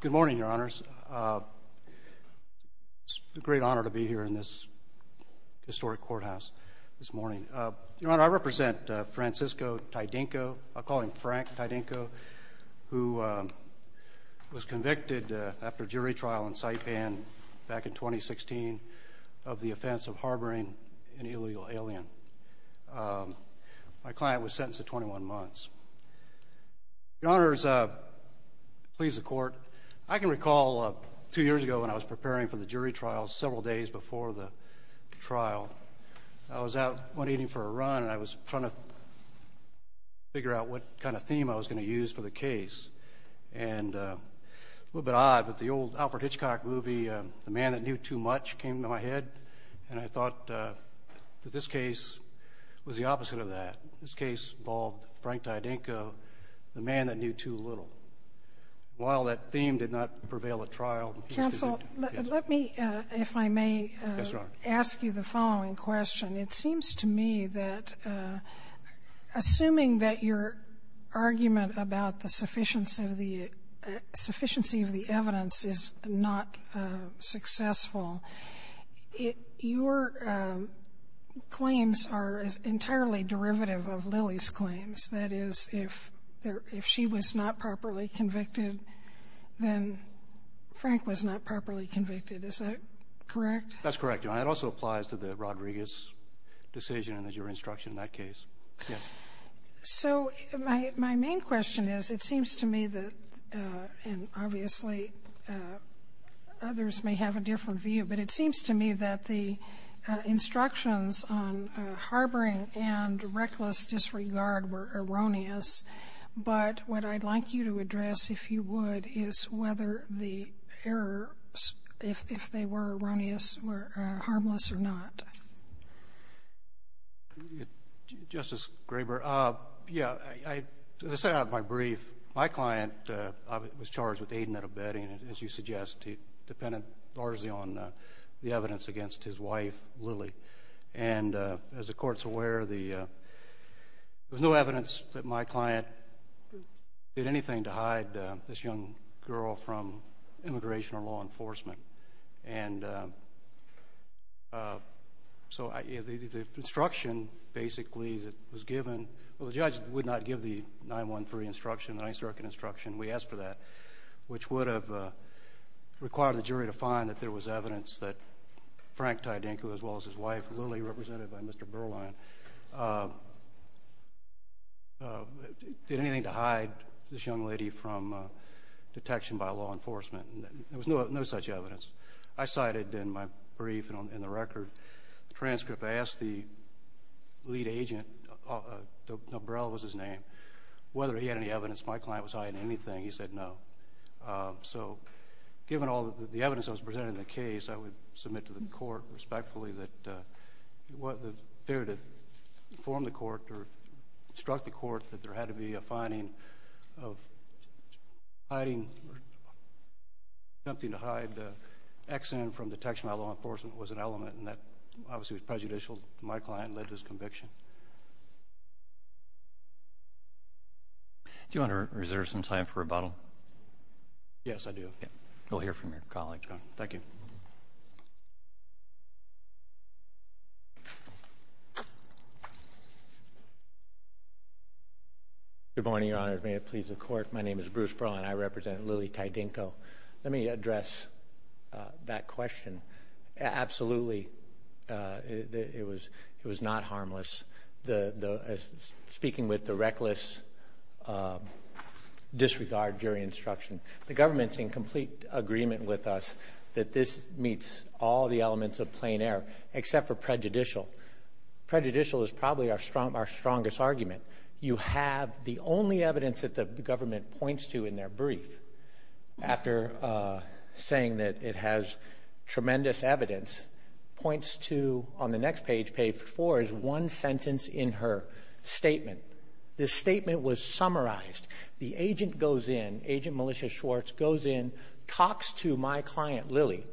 Good morning, your honors. It's a great honor to be here in this historic courthouse this morning. Your honor, I represent Francisco Tydingco, I'll call him Frank Tydingco, who was convicted after jury trial and site ban back in 2016 of the offense of harboring an Your honors, please, the court. I can recall two years ago when I was preparing for the jury trial, several days before the trial, I was out eating for a run and I was trying to figure out what kind of theme I was going to use for the case, and a little bit odd, but the old Alfred Hitchcock movie, The Man That Knew Too Much, came to my head, and I thought that this case was the opposite of that. This case involved Frank Tydingco, The Man That Knew Too Little. While that theme did not prevail at trial, the case did. Counsel, let me, if I may, ask you the following question. It seems to me that assuming that your argument about the sufficiency of the evidence is not successful, your claims are entirely derivative of the evidence. That is, if she was not properly convicted, then Frank was not properly convicted. Is that correct? That's correct, Your Honor. It also applies to the Rodriguez decision and your instruction in that case. My main question is, it seems to me that, and obviously others may have a different view, but it seems to me that the instructions on harboring and reckless disregard were erroneous, but what I'd like you to address, if you would, is whether the errors, if they were erroneous, were harmless or not. Justice Graber, yeah, to set out my brief, my client was charged with aiding and abetting, as you suggest. He depended largely on the evidence against his wife, Lily. And as the Court's aware, there was no evidence that my client did anything to hide this young girl from immigration or law enforcement. And so the instruction, basically, that was given, well, the judge would not give the 913 instruction, the 9th Circuit instruction. We asked for that, which would have required the jury to find that there was evidence that Frank Tiedenko, as well as his wife, Lily, represented by Mr. Berline, did anything to hide this young lady from detection by law enforcement. There was no such evidence. I cited in my brief and in the record the transcript. I asked the lead agent, Donbrell was his name, whether he had any evidence my client was hiding anything. He said no. So given all the evidence that was presented in the case, I would submit to the Court, respectfully, that the failure to inform the Court or instruct the Court that there had to be a finding of hiding something to hide the accident from detection by law enforcement was an element, and that obviously was prejudicial to my client and led to his conviction. Thank you. Do you want to reserve some time for rebuttal? Yes, I do. We'll hear from your colleague. Thank you. Good morning, Your Honor. May it please the Court, my name is Bruce Berline. I represent Lily Tiedenko. Let me address that question. Absolutely, it was not harmless. Speaking with the reckless disregard during instruction, the government is in complete agreement with us that this meets all the elements of plain error, except for prejudicial. Prejudicial is probably our strongest argument. You have the only evidence that the government points to in their brief, after saying that it has tremendous evidence, points to on the next page, page four, is one sentence in her statement. This statement was summarized. The agent goes in, Agent Militia Schwartz, goes in, talks to my client, Lily,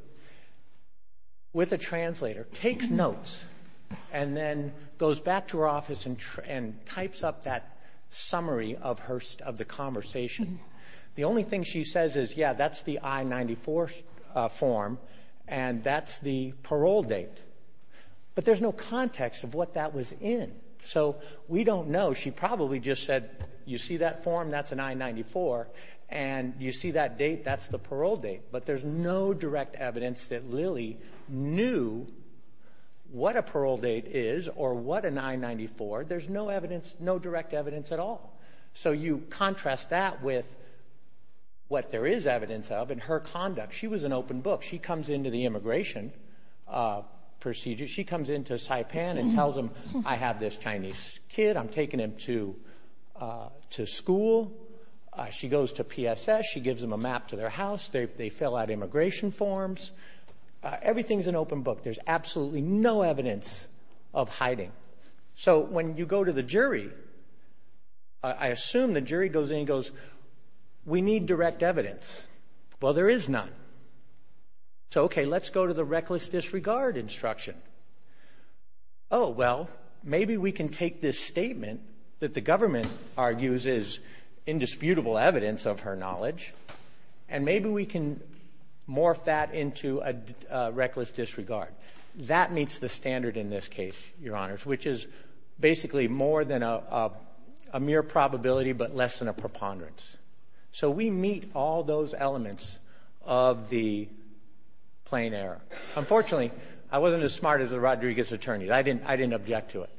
with a translator, takes notes, and then goes back to her office and types up that summary of the conversation. The only thing she says is, yeah, that's the I-94 form, and that's the parole date. But there's no context of what that was in. So we don't know. She probably just said, you see that form? That's an I-94. And you see that date? That's the parole date. But there's no direct evidence that Lily knew what a parole date is or what an I-94. There's no direct evidence at all. So you contrast that with what there is evidence of in her conduct. She was an open book. She comes into the immigration procedure. She comes into Saipan and tells them, I have this Chinese kid. I'm taking him to school. She goes to PSS. She gives them a map to their house. They fill out immigration forms. Everything is an open book. There's absolutely no evidence of hiding. So when you go to the jury, I assume the jury goes in and goes, we need direct evidence. Well, there is none. So, okay, let's go to the reckless disregard instruction. Oh, well, maybe we can take this statement that the government argues is indisputable evidence of her knowledge, and maybe we can morph that into a reckless disregard. That meets the standard in this case, Your Honors, which is basically more than a mere probability but less than a preponderance. So we meet all those elements of the plain error. Unfortunately, I wasn't as smart as the Rodriguez attorney. I didn't object to it.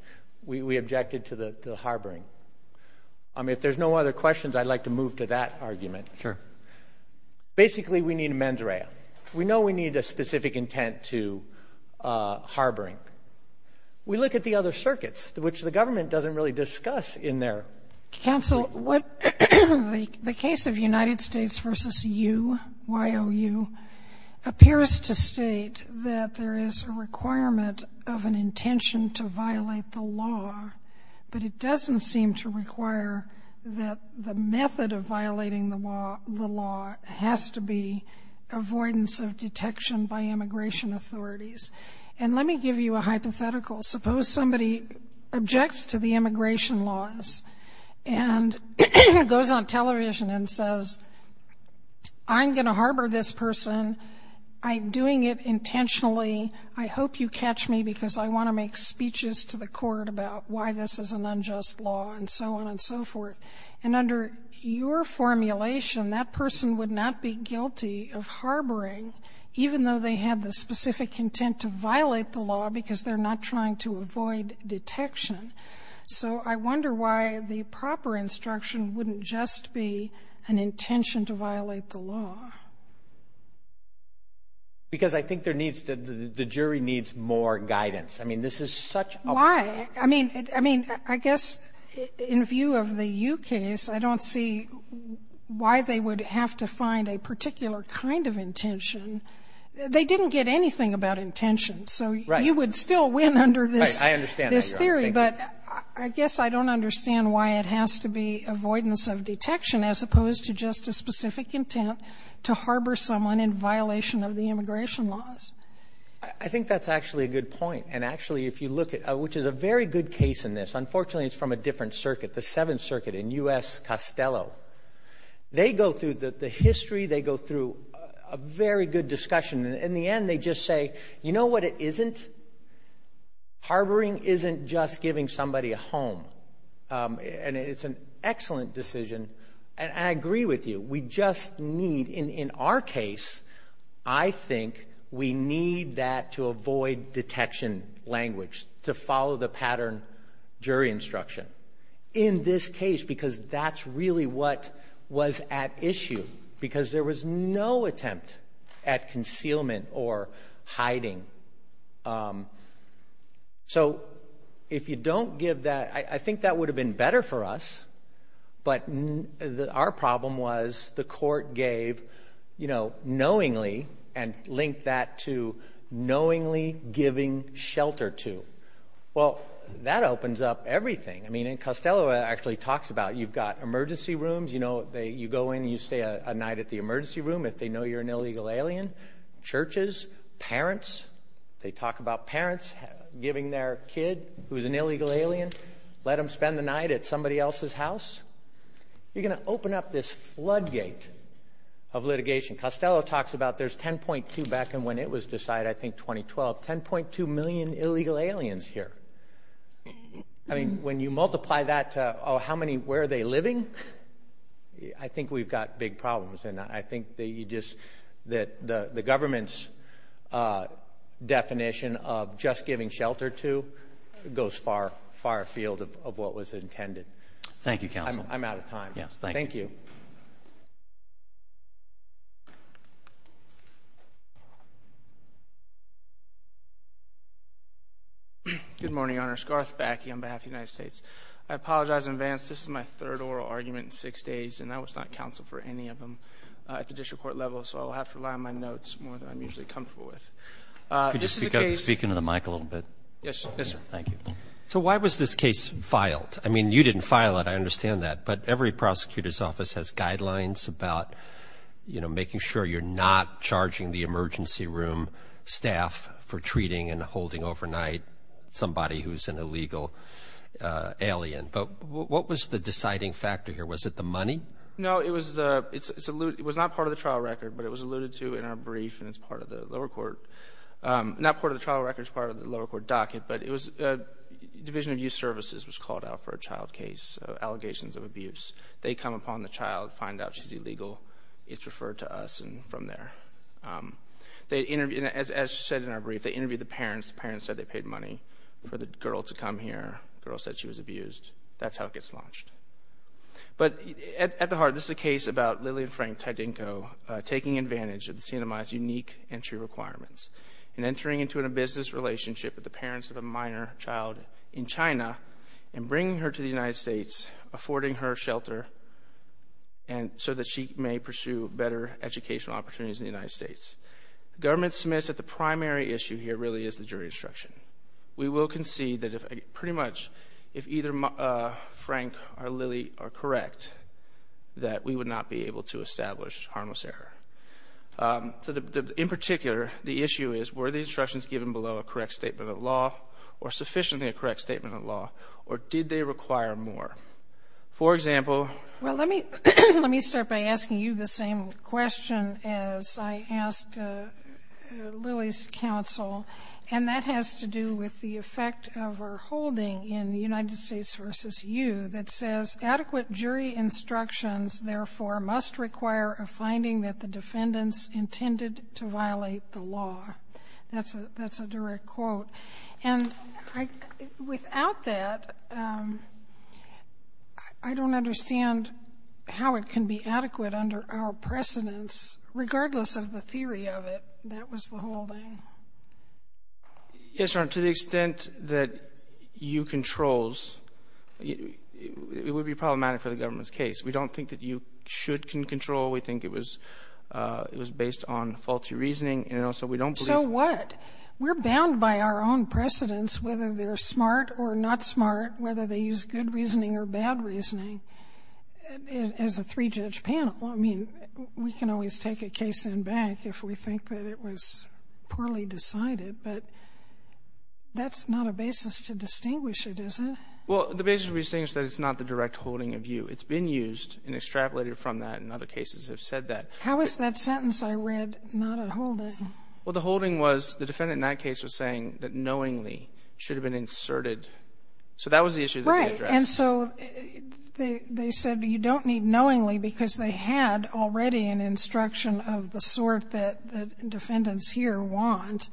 We objected to the harboring. If there's no other questions, I'd like to move to that argument. Sure. Basically, we need a mens rea. We know we need a specific intent to harboring. We look at the other circuits, which the government doesn't really discuss in their. Counsel, the case of United States v. U, Y.O.U., appears to state that there is a requirement of an intention to violate the law, but it doesn't seem to require that the method of violating the law has to be avoidance of detection by immigration authorities. And let me give you a hypothetical. Suppose somebody objects to the immigration laws and goes on television and says, I'm going to harbor this person. I'm doing it intentionally. I hope you catch me because I want to make speeches to the court about why this is an unjust law and so on and so forth. And under your formulation, that person would not be guilty of harboring, even though they had the specific intent to violate the law because they're not trying to avoid detection. So I wonder why the proper instruction wouldn't just be an intention to violate the law. Because I think there needs to be, the jury needs more guidance. I mean, this is such a. Why? I mean, I guess in view of the U case, I don't see why they would have to find a particular kind of intention. They didn't get anything about intention. So you would still win under this theory. But I guess I don't understand why it has to be avoidance of detection as opposed to just a specific intent to harbor someone in violation of the immigration laws. I think that's actually a good point. And actually, if you look at, which is a very good case in this. Unfortunately, it's from a different circuit, the Seventh Circuit in U.S., Costello. They go through the history. They go through a very good discussion. In the end, they just say, you know what it isn't? Harboring isn't just giving somebody a home. And it's an excellent decision. And I agree with you. We just need, in our case, I think we need that to avoid detection language, to follow the pattern jury instruction. In this case, because that's really what was at issue. Because there was no attempt at concealment or hiding. So if you don't give that. I think that would have been better for us. But our problem was the court gave knowingly and linked that to knowingly giving shelter to. Well, that opens up everything. I mean, and Costello actually talks about you've got emergency rooms. You know, you go in and you stay a night at the emergency room if they know you're an illegal alien. Churches, parents. They talk about parents giving their kid who's an illegal alien. Let them spend the night at somebody else's house. You're going to open up this floodgate of litigation. Costello talks about there's 10.2 back when it was decided, I think 2012. 10.2 million illegal aliens here. I mean, when you multiply that to, oh, how many, where are they living? I think we've got big problems. And I think that the government's definition of just giving shelter to goes far afield of what was intended. Thank you, counsel. I'm out of time. Thank you. Good morning, Your Honor. Scarth Backe on behalf of the United States. I apologize in advance. This is my third oral argument in six days, and I was not counsel for any of them at the district court level, so I'll have to rely on my notes more than I'm usually comfortable with. Could you speak into the mic a little bit? Yes, sir. Thank you. So why was this case filed? I mean, you didn't file it. I understand that. But every prosecutor's office has guidelines about, you know, making sure you're not charging the emergency room staff for treating and holding overnight somebody who's an illegal alien. But what was the deciding factor here? Was it the money? No, it was not part of the trial record, but it was alluded to in our brief, and it's part of the lower court. Not part of the trial record. It's part of the lower court docket. But Division of Youth Services was called out for a child case, allegations of abuse. They come upon the child, find out she's illegal. It's referred to us from there. As said in our brief, they interviewed the parents. The parents said they paid money for the girl to come here. The girl said she was abused. That's how it gets launched. But at the heart, this is a case about Lillian Frank Tydinko taking advantage of the CNMI's unique entry requirements and entering into a business relationship with the parents of a minor child in China and bringing her to the United States, affording her shelter, so that she may pursue better educational opportunities in the United States. The government submits that the primary issue here really is the jury instruction. We will concede that pretty much if either Frank or Lillie are correct, that we would not be able to establish harmless error. In particular, the issue is were the instructions given below a correct statement of law or sufficiently a correct statement of law, or did they require more? For example ---- Well, let me start by asking you the same question as I asked Lillie's counsel, and that has to do with the effect of our holding in the United States v. U. that says adequate jury instructions, therefore, must require a finding that the defendants intended to violate the law. That's a direct quote. And without that, I don't understand how it can be adequate under our precedence, regardless of the theory of it. That was the holding. Yes, Your Honor, to the extent that U controls, it would be problematic for the government's case. We don't think that U should control. We think it was based on faulty reasoning, and also we don't believe ---- So what? We're bound by our own precedence whether they're smart or not smart, whether they use good reasoning or bad reasoning as a three-judge panel. Well, I mean, we can always take a case in back if we think that it was poorly decided, but that's not a basis to distinguish it, is it? Well, the basis to distinguish it is that it's not the direct holding of U. It's been used and extrapolated from that, and other cases have said that. How is that sentence I read not a holding? Well, the holding was the defendant in that case was saying that knowingly should have been inserted. So that was the issue that they addressed. And so they said you don't need knowingly because they had already an instruction of the sort that defendants here want,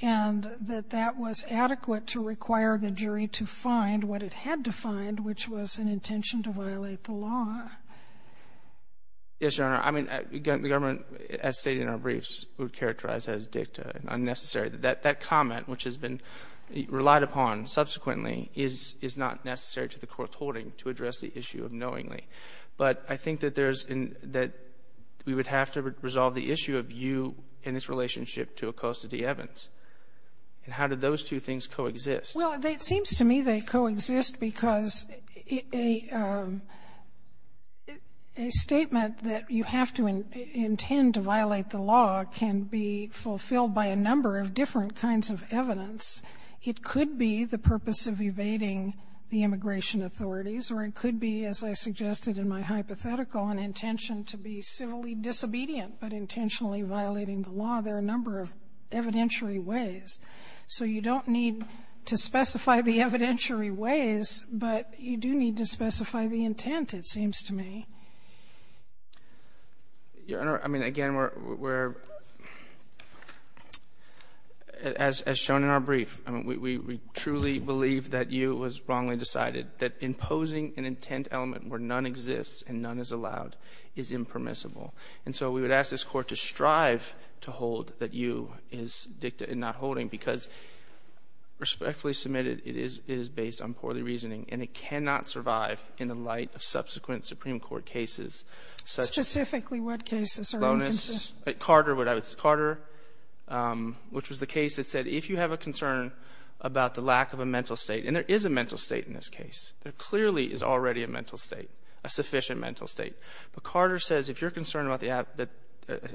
and that that was adequate to require the jury to find what it had to find, which was an intention to violate the law. Yes, Your Honor. I mean, the government, as stated in our briefs, would characterize that as dicta, unnecessary. That comment, which has been relied upon subsequently, is not necessary to the court's holding to address the issue of knowingly. But I think that there's an — that we would have to resolve the issue of U in its relationship to Acosta v. Evans. And how do those two things coexist? Well, it seems to me they coexist because a statement that you have to intend to violate the law can be fulfilled by a number of different kinds of evidence. It could be the purpose of evading the immigration authorities, or it could be, as I suggested in my hypothetical, an intention to be civilly disobedient but intentionally violating the law. There are a number of evidentiary ways. So you don't need to specify the evidentiary ways, but you do need to specify the intent, it seems to me. Your Honor, I mean, again, we're — as shown in our brief, I mean, we truly believe that U was wrongly decided, that imposing an intent element where none exists and none is allowed is impermissible. And so we would ask this Court to strive to hold that U is dicta and not holding because respectfully submitted, it is based on poorly reasoning, and it cannot survive in the light of subsequent Supreme Court cases such as — Specifically what cases are inconsistent? Carter, which was the case that said if you have a concern about the lack of a mental state, and there is a mental state in this case, there clearly is already a mental state, a sufficient mental state. But Carter says if you're concerned that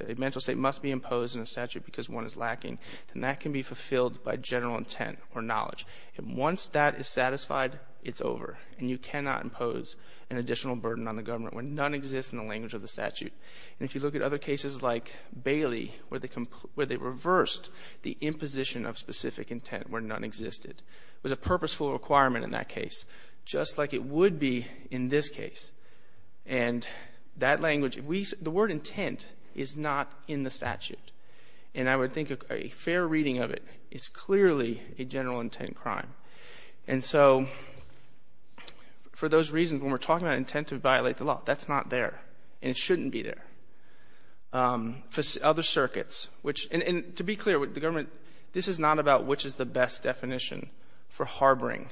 a mental state must be imposed in a statute because one is lacking, then that can be fulfilled by general intent or knowledge. And once that is satisfied, it's over, and you cannot impose an additional burden on the government where none exists in the language of the statute. And if you look at other cases like Bailey, where they reversed the imposition of specific intent where none existed, it was a purposeful requirement in that case, just like it would be in this case. And that language — the word intent is not in the statute. And I would think a fair reading of it, it's clearly a general intent crime. And so for those reasons, when we're talking about intent to violate the law, that's not there, and it shouldn't be there. For other circuits, which — and to be clear, the government — this is not about which is the best definition for harboring,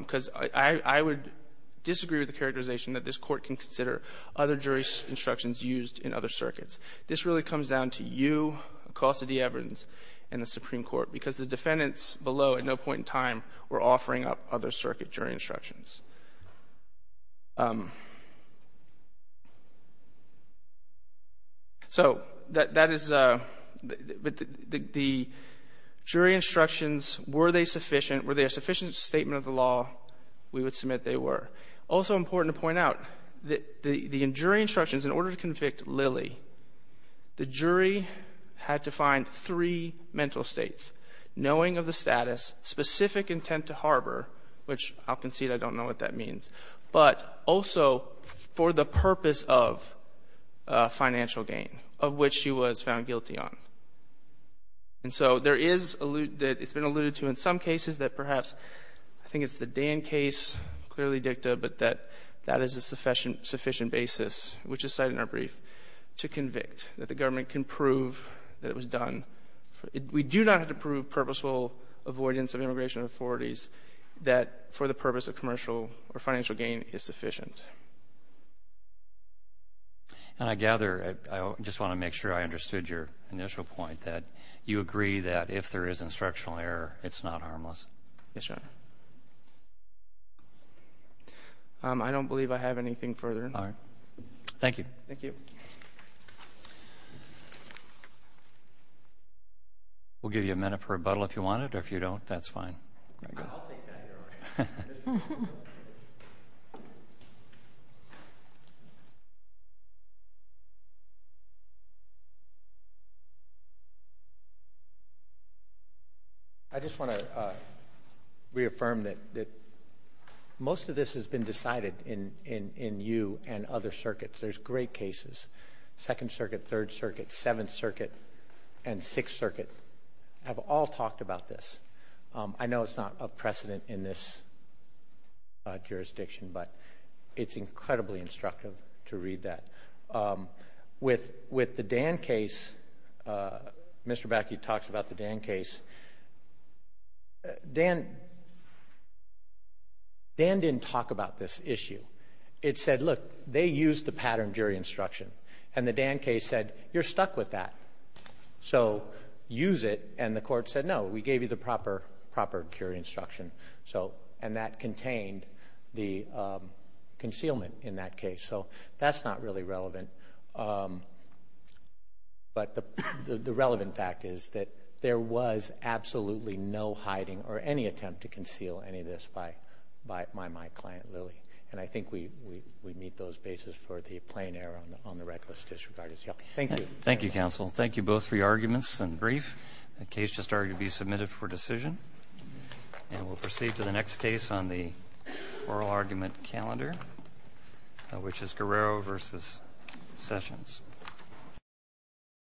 because I would disagree with the characterization that this Court can consider other jury instructions used in other circuits. This really comes down to you, Acosta D. Evans, and the Supreme Court, because the defendants below at no point in time were offering up other circuit jury instructions. So that is — the jury instructions, were they sufficient? Were they a sufficient statement of the law? We would submit they were. Also important to point out, the jury instructions, in order to convict Lilly, the jury had to find three mental states, knowing of the status, specific intent to harbor, which I'll concede I don't know what that means, but also for the purpose of financial gain, of which she was found guilty on. And so there is — it's been alluded to in some cases that perhaps — stay in case, clearly dicta, but that that is a sufficient basis, which is cited in our brief, to convict, that the government can prove that it was done. We do not have to prove purposeful avoidance of immigration authorities that for the purpose of commercial or financial gain is sufficient. And I gather — I just want to make sure I understood your initial point, that you agree that if there is instructional error, it's not harmless. Yes, Your Honor. I don't believe I have anything further. All right. Thank you. Thank you. We'll give you a minute for rebuttal if you want it, or if you don't, that's fine. I'll take that, Your Honor. I just want to reaffirm that most of this has been decided in you and other circuits. There's great cases. Second Circuit, Third Circuit, Seventh Circuit, and Sixth Circuit have all talked about this. I know it's not a precedent in this jurisdiction, but it's incredibly instructive to read that. With the Dan case, Mr. Bakke talks about the Dan case. Dan didn't talk about this issue. It said, look, they used the pattern jury instruction. And the Dan case said, you're stuck with that, so use it. And the court said, no, we gave you the proper jury instruction. And that contained the concealment in that case. So that's not really relevant. But the relevant fact is that there was absolutely no hiding or any attempt to conceal any of this by my client, Lilly. And I think we meet those bases for the plain error on the reckless disregard. Thank you. Thank you, counsel. Thank you both for your arguments and brief. The case just argued to be submitted for decision. And we'll proceed to the next case on the oral argument calendar, which is Guerrero v. Sessions.